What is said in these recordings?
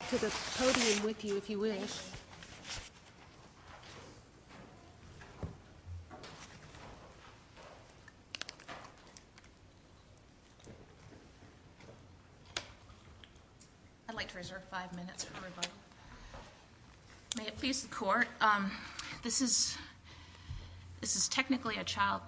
I'd like to reserve five minutes for rebuttal. May it please the court, this is technically a child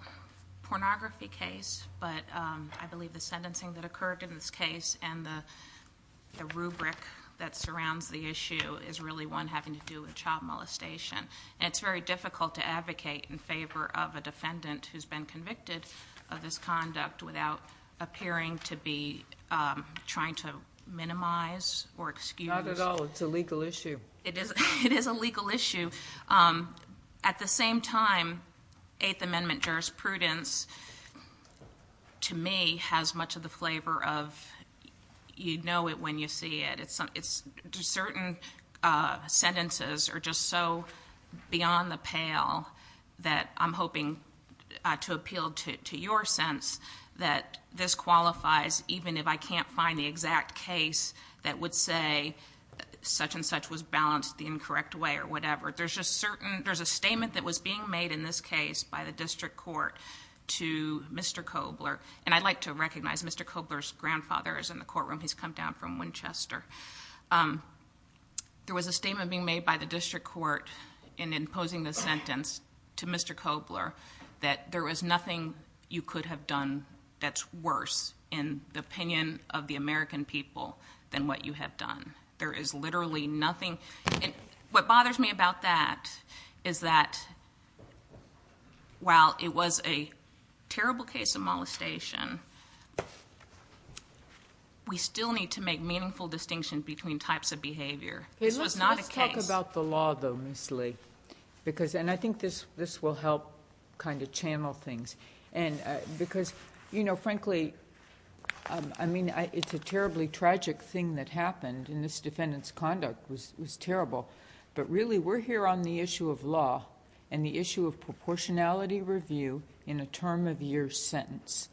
pornography case, but I believe the sentencing that occurred in this case and the rubric that surrounds the issue is really one having to do with child molestation. And it's very difficult to advocate in favor of a defendant who's been convicted of this conduct without appearing to be trying to minimize or excuse. Not at all, it's a legal issue. It is a legal issue. At the same time, Eighth Amendment jurisprudence, to me, has much of the flavor of you know it when you see it. Certain sentences are just so beyond the pale that I'm hoping to appeal to your sense that this qualifies even if I can't find the exact case that would say such and such was balanced the incorrect way or whatever. There's a statement that was being made in this case by the district court to Mr. Cobler, and I'd like to recognize Mr. Cobler's grandfather is in the courtroom. He's come down from Winchester. There was a statement being made by the district court in imposing the sentence to Mr. Cobler that there was nothing you could have done that's worse in the opinion of the American people than what you have done. There is literally nothing. What bothers me about that is that while it was a terrible case of molestation, we still need to make meaningful distinction between types of behavior. This was not a case. Let's talk about the law, though, Ms. Lee. And I think this will help kind of channel things. Because, you know, frankly, I mean, it's a terribly tragic thing that happened, and this defendant's conduct was terrible. But really we're here on the issue of law and the issue of proportionality review in a term-of-year sentence.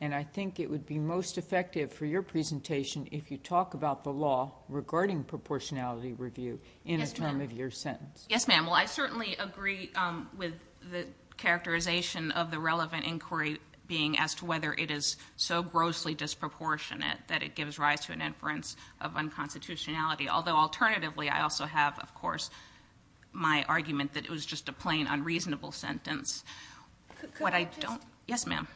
And I think it would be most effective for your presentation if you talk about the law regarding proportionality review in a term-of-year sentence. Yes, ma'am. Well, I certainly agree with the characterization of the relevant inquiry being as to whether it is so grossly disproportionate that it gives rise to an inference of unconstitutionality. Although, alternatively, I also have, of course, my argument that it was just a plain unreasonable sentence. Yes, ma'am.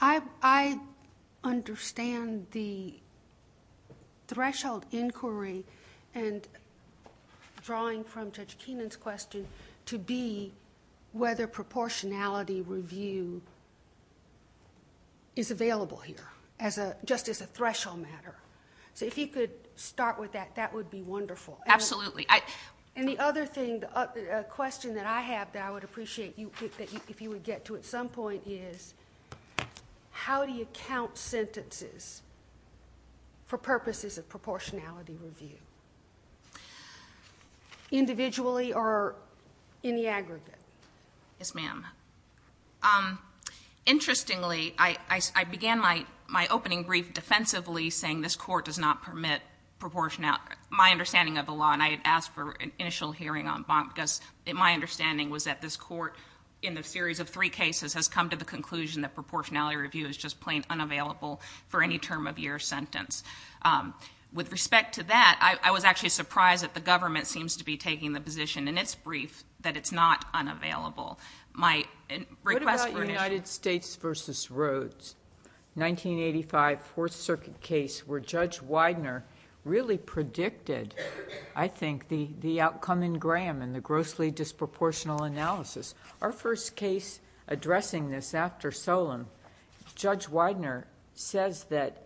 I understand the threshold inquiry and drawing from Judge Keenan's question to be whether proportionality review is available here, just as a threshold matter. So if you could start with that, that would be wonderful. Absolutely. And the other thing, a question that I have that I would appreciate if you would get to at some point, is how do you count sentences for purposes of proportionality review, individually or in the aggregate? Yes, ma'am. Interestingly, I began my opening brief defensively, saying this Court does not permit proportionality. My understanding of the law, and I had asked for an initial hearing on Bonk, my understanding was that this Court, in the series of three cases, has come to the conclusion that proportionality review is just plain unavailable for any term-of-year sentence. With respect to that, I was actually surprised that the government seems to be taking the position in its brief that it's not unavailable. What about United States v. Rhodes, 1985 Fourth Circuit case, where Judge Widener really predicted, I think, the outcome in Graham and the grossly disproportional analysis. Our first case addressing this after Solem, Judge Widener says that,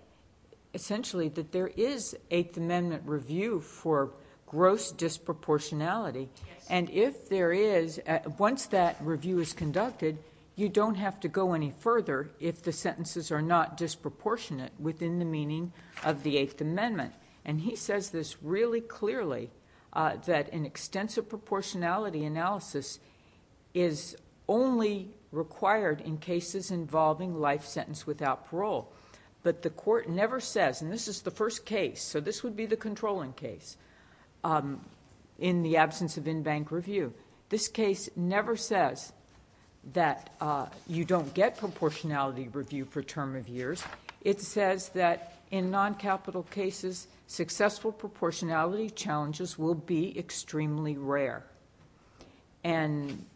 essentially, that there is Eighth Amendment review for gross disproportionality, and if there is, once that review is conducted, you don't have to go any further if the sentences are not disproportionate within the meaning of the Eighth Amendment. He says this really clearly, that an extensive proportionality analysis is only required in cases involving life sentence without parole. But the Court never says, and this is the first case, so this would be the controlling case, in the absence of in-bank review. This case never says that you don't get proportionality review for term-of-years. It says that in non-capital cases, successful proportionality challenges will be extremely rare. And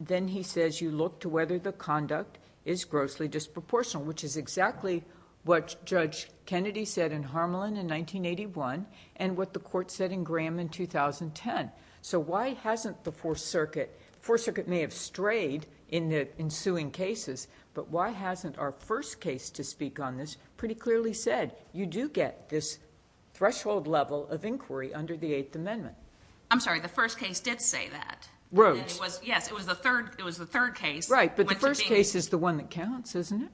then he says you look to whether the conduct is grossly disproportional, which is exactly what Judge Kennedy said in Harmelin in 1981 and what the Court said in Graham in 2010. So why hasn't the Fourth Circuit... The Fourth Circuit may have strayed in the ensuing cases, but why hasn't our first case to speak on this pretty clearly said you do get this threshold level of inquiry under the Eighth Amendment? I'm sorry, the first case did say that. Rose. Yes, it was the third case. Right, but the first case is the one that counts, isn't it?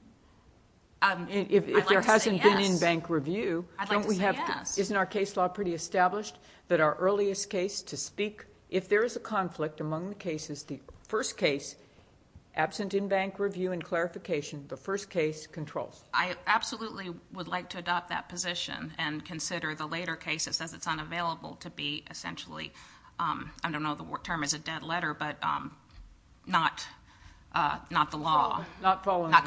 I'd like to say yes. If there hasn't been in-bank review, don't we have to... I'd like to say yes. Isn't our case law pretty established that our earliest case to speak, if there is a conflict among the cases, is the first case absent in-bank review and clarification. The first case controls. I absolutely would like to adopt that position and consider the later case that says it's unavailable to be essentially... I don't know if the term is a dead letter, but not the law. Not following... Not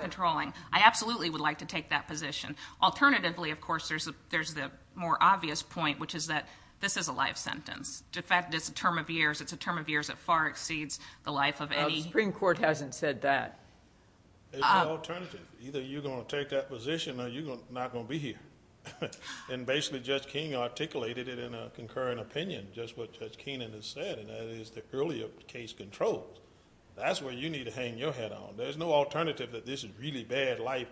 controlling. I absolutely would like to take that position. Alternatively, of course, there's the more obvious point, which is that this is a life sentence. In fact, it's a term of years. It's a term of years that far exceeds the life of any... The Supreme Court hasn't said that. There's no alternative. Either you're going to take that position or you're not going to be here. Basically, Judge Keenan articulated it in a concurring opinion, just what Judge Keenan has said, and that is the earlier case controls. That's where you need to hang your head on. There's no alternative that this is a really bad life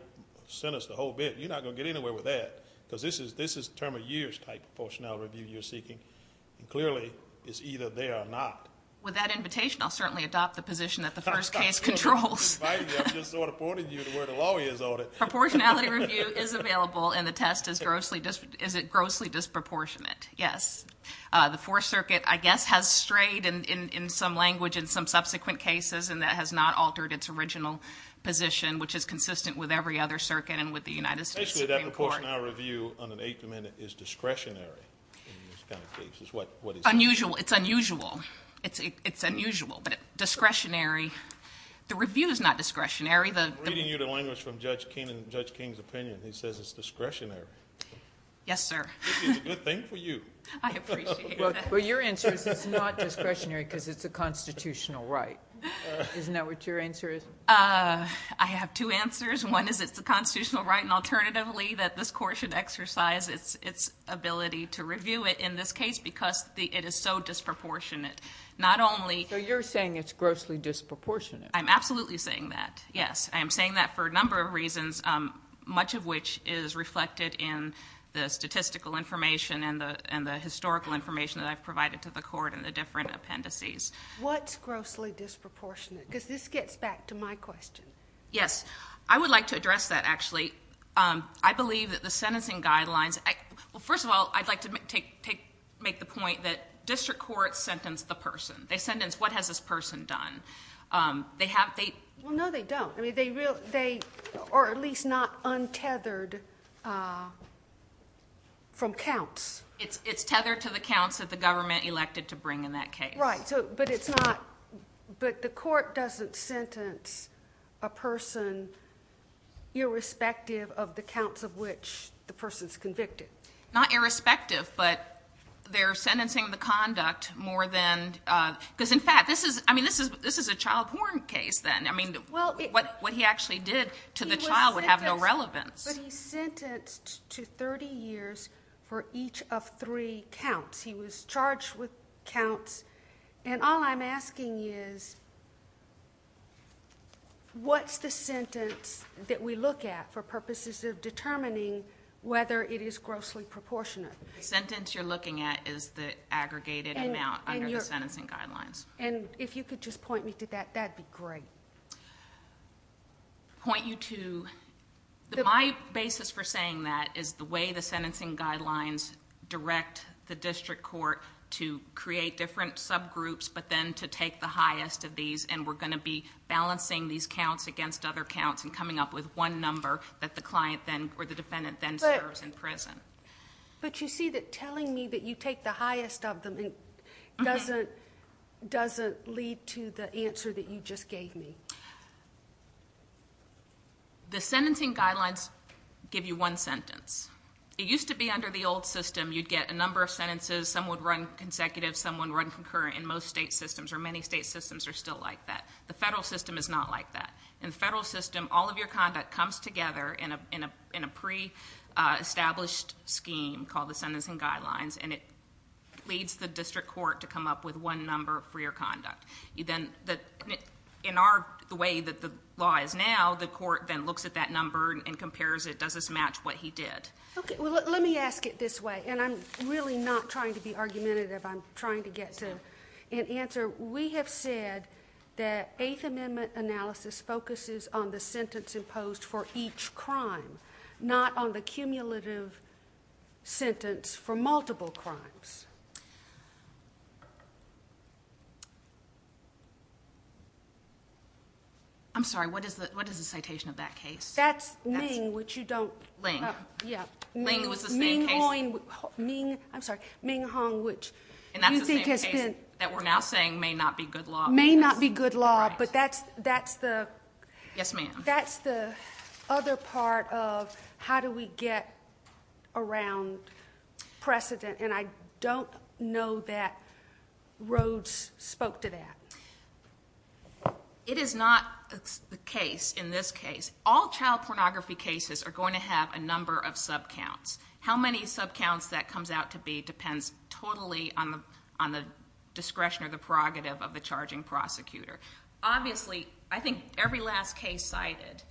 sentence, the whole bit. You're not going to get anywhere with that because this is a term of years type of portionality review you're seeking. Clearly, it's either they are not. With that invitation, I'll certainly adopt the position that the first case controls. I'm inviting you. I'm just sort of pointing you to where the law is on it. Proportionality review is available, and the test is it grossly disproportionate? Yes. The Fourth Circuit, I guess, has strayed in some language in some subsequent cases, and that has not altered its original position, which is consistent with every other circuit and with the United States Supreme Court. Basically, that proportionality review on an eight-minute is discretionary in this kind of case. It's unusual. It's unusual. It's unusual, but discretionary. The review is not discretionary. I'm reading you the language from Judge Keenan and Judge King's opinion. He says it's discretionary. Yes, sir. It's a good thing for you. I appreciate it. Well, your answer is it's not discretionary because it's a constitutional right. Isn't that what your answer is? I have two answers. One is it's a constitutional right, and alternatively, that this court should exercise its ability to review it in this case because it is so disproportionate. So you're saying it's grossly disproportionate. I'm absolutely saying that, yes. I am saying that for a number of reasons, much of which is reflected in the statistical information and the historical information that I've provided to the court and the different appendices. What's grossly disproportionate? Because this gets back to my question. Yes. I would like to address that, actually. I believe that the sentencing guidelines, well, first of all, I'd like to make the point that district courts sentence the person. They sentence what has this person done. Well, no, they don't. I mean, they are at least not untethered from counts. It's tethered to the counts that the government elected to bring in that case. Right. But the court doesn't sentence a person irrespective of the counts of which the person is convicted. Not irrespective, but they're sentencing the conduct more than ñ because, in fact, this is a child porn case, then. I mean, what he actually did to the child would have no relevance. But he's sentenced to 30 years for each of three counts. He was charged with counts. And all I'm asking is what's the sentence that we look at for purposes of determining whether it is grossly proportionate? The sentence you're looking at is the aggregated amount under the sentencing guidelines. And if you could just point me to that, that'd be great. Point you to ñ my basis for saying that is the way the sentencing guidelines direct the district court to create different subgroups, but then to take the highest of these. And we're going to be balancing these counts against other counts and coming up with one number that the client then But you see that telling me that you take the highest of them doesn't lead to the answer that you just gave me. The sentencing guidelines give you one sentence. It used to be under the old system you'd get a number of sentences. Some would run consecutive. Some would run concurrent. And most state systems or many state systems are still like that. The federal system is not like that. In the federal system, all of your conduct comes together in a pre-established scheme called the sentencing guidelines, and it leads the district court to come up with one number for your conduct. In the way that the law is now, the court then looks at that number and compares it, does this match what he did? Let me ask it this way, and I'm really not trying to be argumentative. I'm trying to get to an answer. We have said that Eighth Amendment analysis focuses on the sentence imposed for each crime, not on the cumulative sentence for multiple crimes. I'm sorry, what is the citation of that case? That's Ming, which you don't Ling. Yeah. Ling was the same case. I'm sorry, Ming Hong, which you think has been And that's the same case that we're now saying may not be good law. May not be good law, but that's the Yes, ma'am. That's the other part of how do we get around precedent, and I don't know that Rhodes spoke to that. It is not the case in this case. All child pornography cases are going to have a number of subcounts. How many subcounts that comes out to be depends totally on the discretion or the prerogative of the charging prosecutor. Obviously, I think every last case cited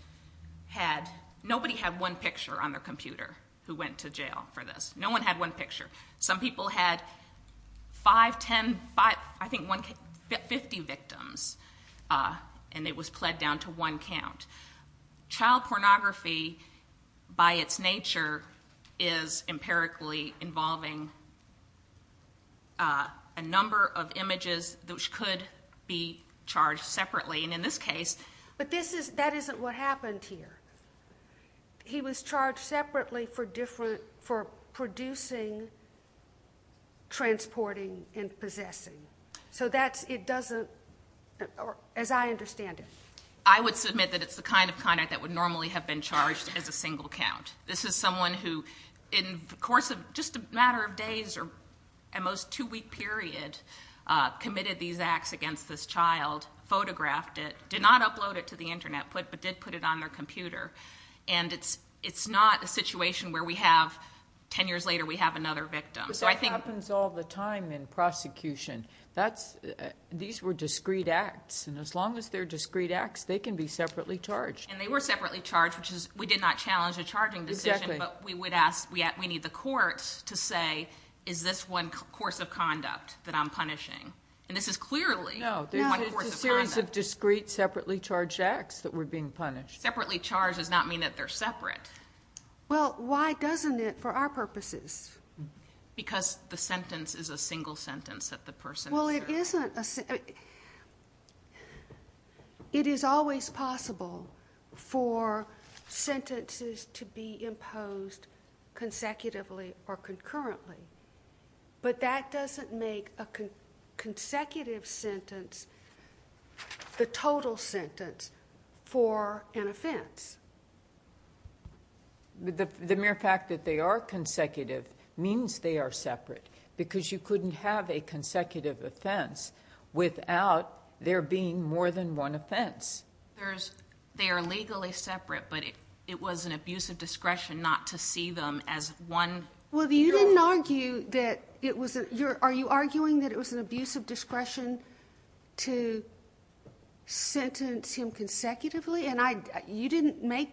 had, nobody had one picture on their computer who went to jail for this. No one had one picture. Some people had 5, 10, I think 50 victims, and it was pled down to one count. Child pornography, by its nature, is empirically involving a number of images which could be charged separately. And in this case But that isn't what happened here. He was charged separately for producing, transporting, and possessing. So that's, it doesn't, as I understand it. I would submit that it's the kind of conduct that would normally have been charged as a single count. This is someone who, in the course of just a matter of days or at most two-week period, committed these acts against this child, photographed it, did not upload it to the Internet, but did put it on their computer. And it's not a situation where we have, 10 years later, we have another victim. But that happens all the time in prosecution. These were discrete acts, and as long as they're discrete acts, they can be separately charged. And they were separately charged, which is, we did not challenge a charging decision. Exactly. But we would ask, we need the courts to say, is this one course of conduct that I'm punishing? And this is clearly one course of conduct. No, it's a series of discrete, separately charged acts that were being punished. Separately charged does not mean that they're separate. Well, why doesn't it for our purposes? Because the sentence is a single sentence that the person is serving. Well, it isn't a single sentence. It is always possible for sentences to be imposed consecutively or concurrently. But that doesn't make a consecutive sentence the total sentence for an offense. The mere fact that they are consecutive means they are separate. Because you couldn't have a consecutive offense without there being more than one offense. They are legally separate, but it was an abuse of discretion not to see them as one. Well, you didn't argue that it was a, are you arguing that it was an abuse of discretion to sentence him consecutively? You didn't make,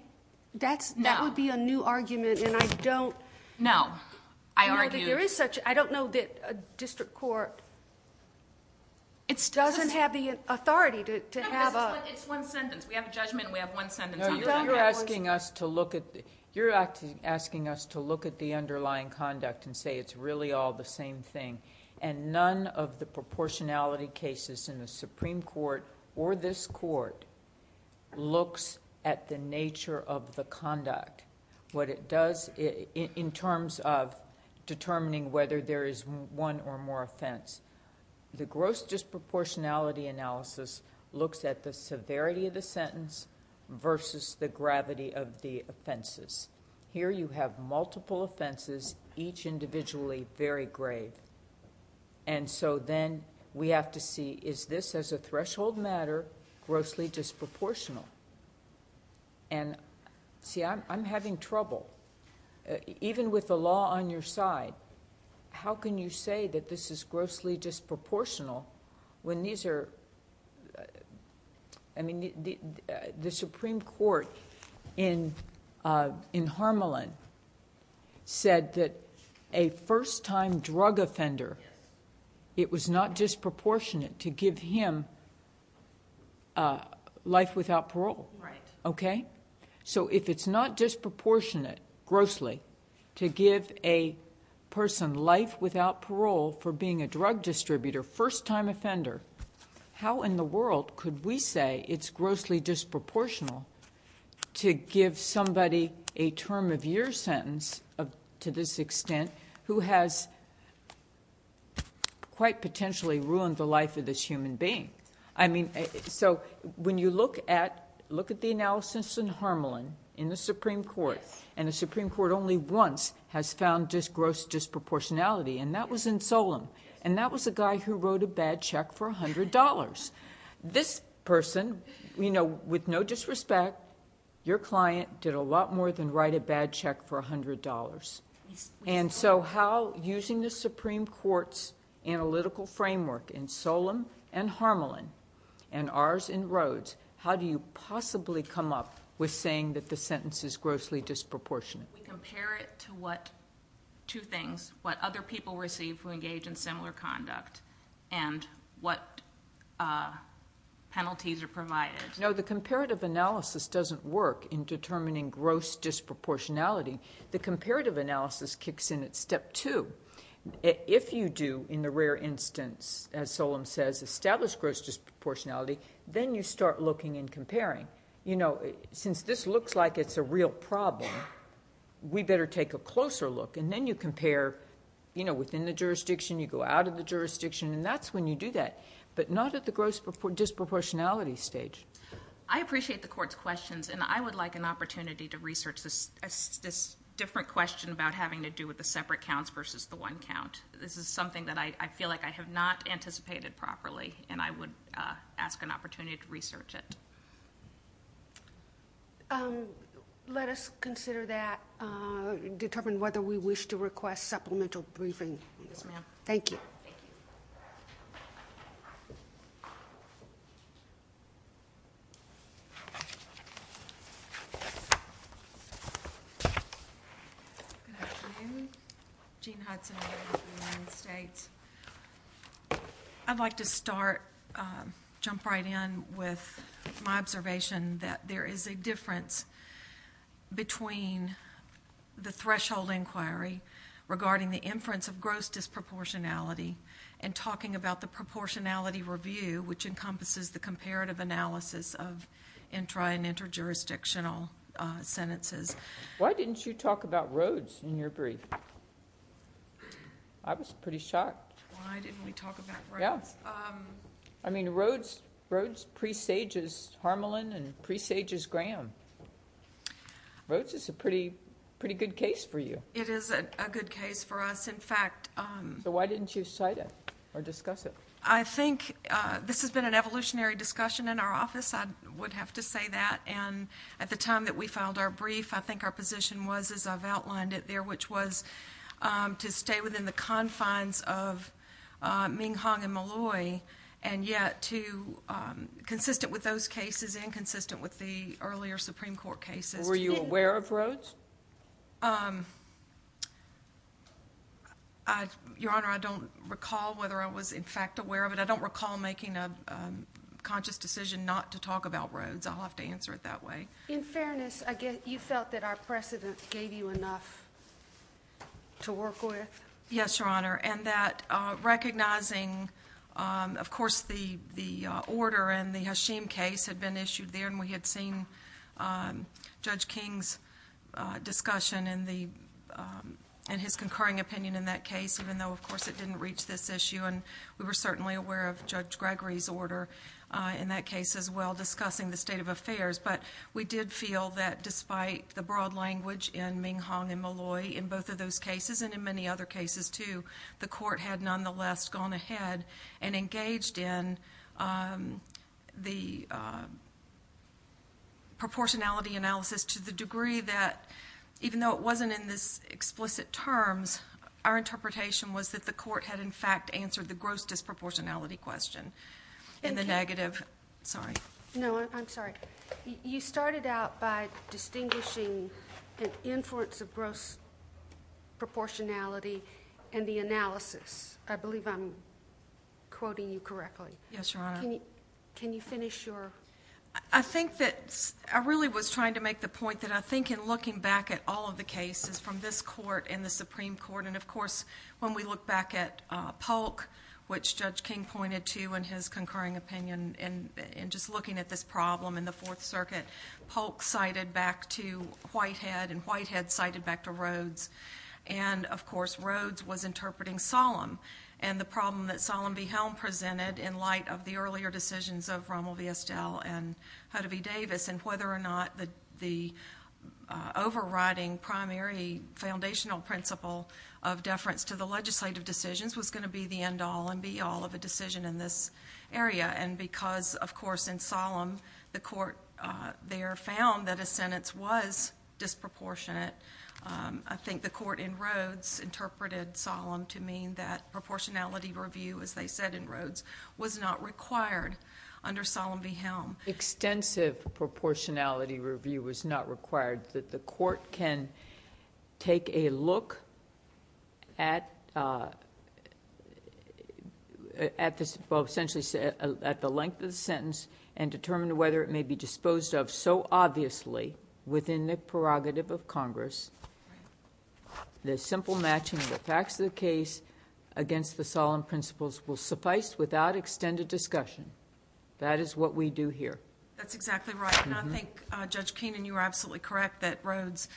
that would be a new argument and I don't. No, I argued. I don't know that a district court doesn't have the authority to have a. It's one sentence. We have a judgment and we have one sentence. You're asking us to look at the underlying conduct and say it's really all the same thing. And none of the proportionality cases in the Supreme Court or this court looks at the nature of the conduct. What it does in terms of determining whether there is one or more offense. The gross disproportionality analysis looks at the severity of the sentence versus the gravity of the offenses. Here you have multiple offenses, each individually very grave. And so then we have to see is this as a threshold matter grossly disproportional? And see, I'm having trouble. Even with the law on your side, how can you say that this is grossly disproportional when these are, I mean, the Supreme Court in Harmelin said that a first-time drug offender, it was not disproportionate to give him life without parole. Right. Okay? So if it's not disproportionate grossly to give a person life without parole for being a drug distributor, first-time offender, how in the world could we say it's grossly disproportional to give somebody a term of year sentence to this extent who has quite potentially ruined the life of this human being? I mean, so when you look at the analysis in Harmelin in the Supreme Court, and the Supreme Court only once has found gross disproportionality, and that was in Solem. And that was a guy who wrote a bad check for $100. This person, you know, with no disrespect, your client did a lot more than write a bad check for $100. And so how, using the Supreme Court's analytical framework in Solem and Harmelin and ours in Rhodes, how do you possibly come up with saying that the sentence is grossly disproportionate? We compare it to what two things, what other people receive who engage in similar conduct, and what penalties are provided. No, the comparative analysis doesn't work in determining gross disproportionality. The comparative analysis kicks in at step two. If you do, in the rare instance, as Solem says, establish gross disproportionality, then you start looking and comparing. You know, since this looks like it's a real problem, we better take a closer look. And then you compare, you know, within the jurisdiction, you go out of the jurisdiction, and that's when you do that, but not at the gross disproportionality stage. I appreciate the Court's questions, and I would like an opportunity to research this different question about having to do with the separate counts versus the one count. This is something that I feel like I have not anticipated properly, and I would ask an opportunity to research it. Let us consider that, determine whether we wish to request supplemental briefing. Yes, ma'am. Thank you. Thank you. Good afternoon. Jean Hudson here with the United States. I'd like to start, jump right in, with my observation that there is a difference between the threshold inquiry regarding the inference of gross disproportionality and talking about the proportionality review, which encompasses the comparative analysis of intra- and interjurisdictional sentences. Why didn't you talk about Rhodes in your brief? I was pretty shocked. Why didn't we talk about Rhodes? Yeah. I mean, Rhodes presages Harmelin and presages Graham. Rhodes is a pretty good case for you. It is a good case for us. In fact— So why didn't you cite it or discuss it? I think this has been an evolutionary discussion in our office. I would have to say that. And at the time that we filed our brief, I think our position was, as I've outlined it there, which was to stay within the confines of Ming Hong and Malloy, and yet consistent with those cases and consistent with the earlier Supreme Court cases. Were you aware of Rhodes? Your Honor, I don't recall whether I was, in fact, aware of it. I don't recall making a conscious decision not to talk about Rhodes. I'll have to answer it that way. In fairness, you felt that our precedent gave you enough to work with? Yes, Your Honor, and that recognizing, of course, the order and the Hashim case had been issued there, and we had seen Judge King's discussion and his concurring opinion in that case, even though, of course, it didn't reach this issue. And we were certainly aware of Judge Gregory's order in that case as well, discussing the state of affairs. But we did feel that despite the broad language in Ming Hong and Malloy in both of those cases, and in many other cases too, the court had nonetheless gone ahead and engaged in the proportionality analysis to the degree that, even though it wasn't in this explicit terms, our interpretation was that the court had, in fact, answered the gross disproportionality question. Thank you. And the negative. Sorry. No, I'm sorry. You started out by distinguishing an influence of gross proportionality in the analysis. I believe I'm quoting you correctly. Yes, Your Honor. Can you finish your? I think that I really was trying to make the point that I think in looking back at all of the cases from this court and the Supreme Court, and, of course, when we look back at Polk, which Judge King pointed to in his concurring opinion, and just looking at this problem in the Fourth Circuit, Polk cited back to Whitehead, and Whitehead cited back to Rhoades, and, of course, Rhoades was interpreting Solemn. And the problem that Solemn v. Helm presented in light of the earlier decisions of Rommel v. Estelle and Hudevy Davis and whether or not the overriding primary foundational principle of deference to the legislative decisions was going to be the end all and be all of a decision in this area. And because, of course, in Solemn the court there found that a sentence was disproportionate, I think the court in Rhoades interpreted Solemn to mean that proportionality review, as they said in Rhoades, was not required under Solemn v. Helm. Extensive proportionality review was not required, that the court can take a look at the length of the sentence and determine whether it may be disposed of so obviously within the prerogative of Congress the simple matching of the facts of the case against the Solemn principles will suffice without extended discussion. That is what we do here. That's exactly right. And I think, Judge Keenan, you are absolutely correct that Rhoades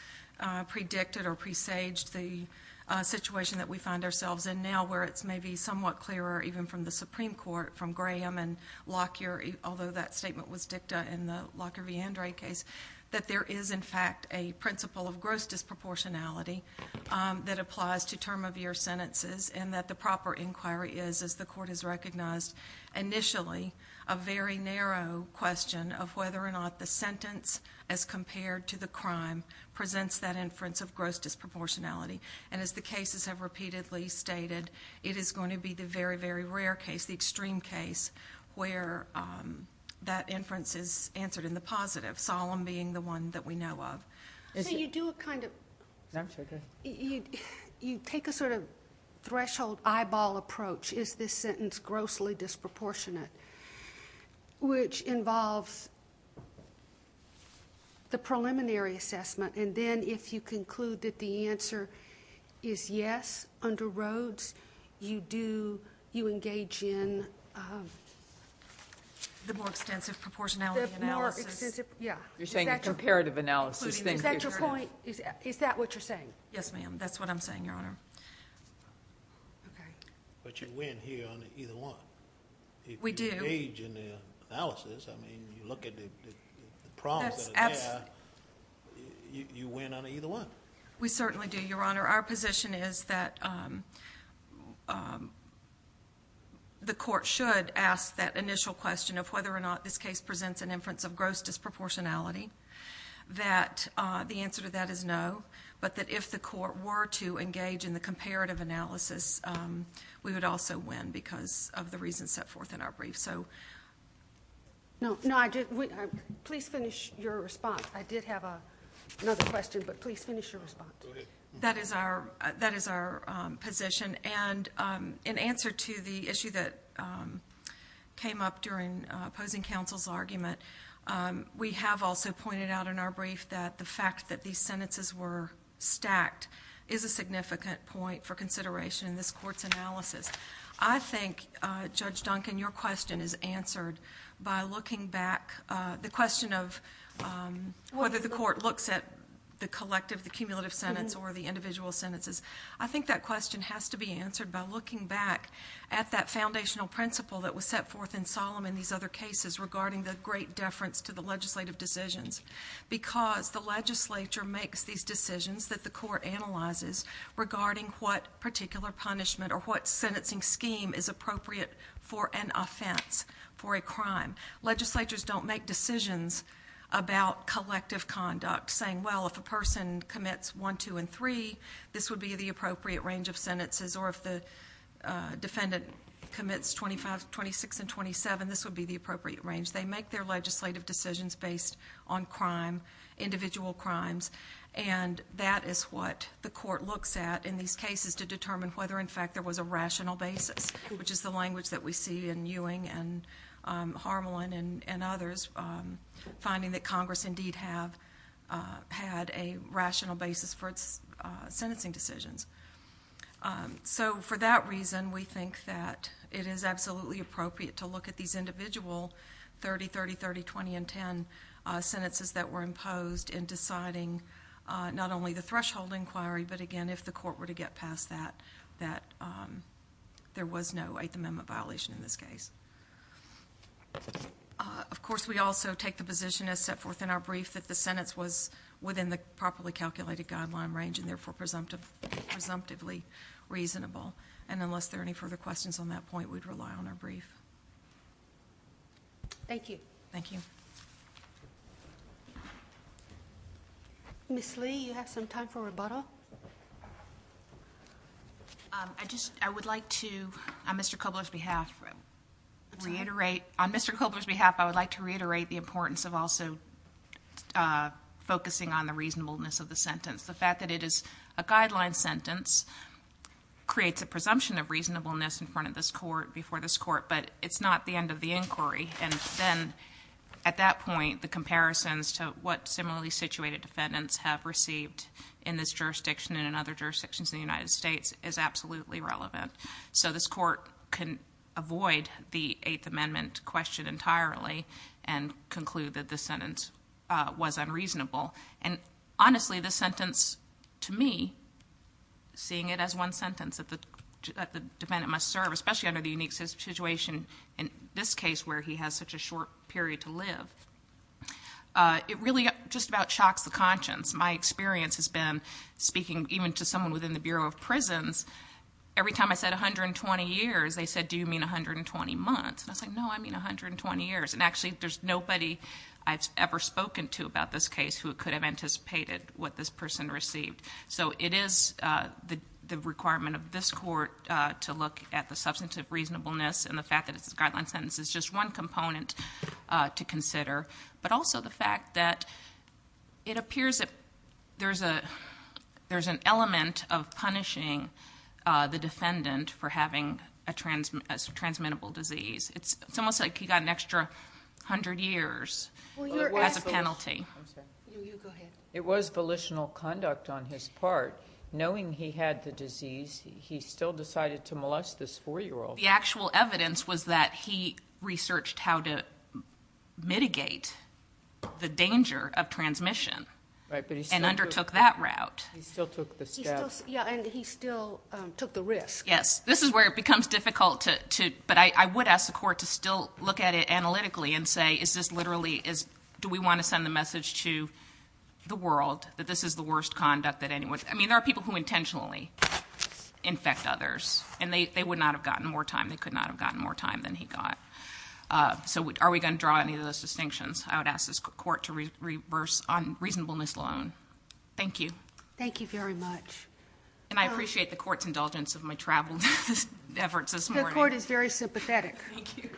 predicted or presaged the situation that we find ourselves in now where it's maybe somewhat clearer even from the Supreme Court from Graham and Lockyer, although that statement was dicta in the Lockyer v. Andrei case, that there is in fact a principle of gross disproportionality that applies to term of year sentences and that the proper inquiry is, as the court has recognized initially, a very narrow question of whether or not the sentence as compared to the crime presents that inference of gross disproportionality. And as the cases have repeatedly stated, it is going to be the very, very rare case, the extreme case, where that inference is answered in the positive, Solemn being the one that we know of. So you do a kind of, you take a sort of threshold eyeball approach, is this sentence grossly disproportionate, which involves the preliminary assessment and then if you conclude that the answer is yes under Rhoades, you engage in the more extensive proportionality analysis. You're saying a comparative analysis. Is that your point? Is that what you're saying? Yes, ma'am. That's what I'm saying, Your Honor. Okay. But you win here on either one. We do. If you engage in the analysis, I mean, you look at the problems that are there, you win on either one. We certainly do, Your Honor. Our position is that the court should ask that initial question of whether or not this case presents an inference of gross disproportionality, that the answer to that is no, but that if the court were to engage in the comparative analysis, we would also win because of the reasons set forth in our brief. No, please finish your response. I did have another question, but please finish your response. Go ahead. That is our position. And in answer to the issue that came up during opposing counsel's argument, we have also pointed out in our brief that the fact that these sentences were stacked is a significant point for consideration in this court's analysis. I think, Judge Duncan, your question is answered by looking back. The question of whether the court looks at the collective, the cumulative sentence or the individual sentences, I think that question has to be answered by looking back at that foundational principle that was set forth in Solemn in these other cases regarding the great deference to the legislative decisions because the legislature makes these decisions that the court analyzes regarding what particular punishment or what sentencing scheme is appropriate for an offense, for a crime. Legislatures don't make decisions about collective conduct saying, well, if a person commits 1, 2, and 3, this would be the appropriate range of sentences, or if the defendant commits 25, 26, and 27, this would be the appropriate range. They make their legislative decisions based on crime, individual crimes, and that is what the court looks at in these cases to determine whether, in fact, there was a rational basis, which is the language that we see in Ewing and Harmelin and others, finding that Congress indeed had a rational basis for its sentencing decisions. So for that reason, we think that it is absolutely appropriate to look at these individual 30, 30, 30, 20, and 10 sentences that were imposed in deciding not only the threshold inquiry, but, again, if the court were to get past that, that there was no Eighth Amendment violation in this case. Of course, we also take the position as set forth in our brief that the sentence was within the properly calculated guideline range and, therefore, presumptively reasonable. And unless there are any further questions on that point, we'd rely on our brief. Thank you. Thank you. Ms. Lee, you have some time for rebuttal? I would like to, on Mr. Kobler's behalf, reiterate the importance of also focusing on the reasonableness of the sentence. The fact that it is a guideline sentence creates a presumption of reasonableness in front of this court, before this court, but it's not the end of the inquiry. And then, at that point, the comparisons to what similarly situated defendants have received in this jurisdiction and in other jurisdictions in the United States is absolutely relevant. So this court can avoid the Eighth Amendment question entirely and conclude that the sentence was unreasonable. And, honestly, this sentence, to me, seeing it as one sentence that the defendant must serve, especially under the unique situation in this case where he has such a short period to live, it really just about shocks the conscience. My experience has been, speaking even to someone within the Bureau of Prisons, every time I said 120 years, they said, do you mean 120 months? And I said, no, I mean 120 years. And, actually, there's nobody I've ever spoken to about this case who could have anticipated what this person received. So it is the requirement of this court to look at the substantive reasonableness, and the fact that it's a guideline sentence is just one component to consider. But also the fact that it appears that there's an element of punishing the defendant for having a transmittable disease. It's almost like he got an extra hundred years as a penalty. You go ahead. It was volitional conduct on his part. Knowing he had the disease, he still decided to molest this 4-year-old. The actual evidence was that he researched how to mitigate the danger of transmission and undertook that route. He still took the step. Yeah, and he still took the risk. Yes. This is where it becomes difficult to, but I would ask the court to still look at it analytically and say, is this literally, do we want to send the message to the world that this is the worst conduct that anyone, I mean there are people who intentionally infect others, and they would not have gotten more time, they could not have gotten more time than he got. So are we going to draw any of those distinctions? I would ask this court to reverse on reasonableness alone. Thank you. Thank you very much. And I appreciate the court's indulgence of my travel efforts this morning. The court is very sympathetic. Thank you.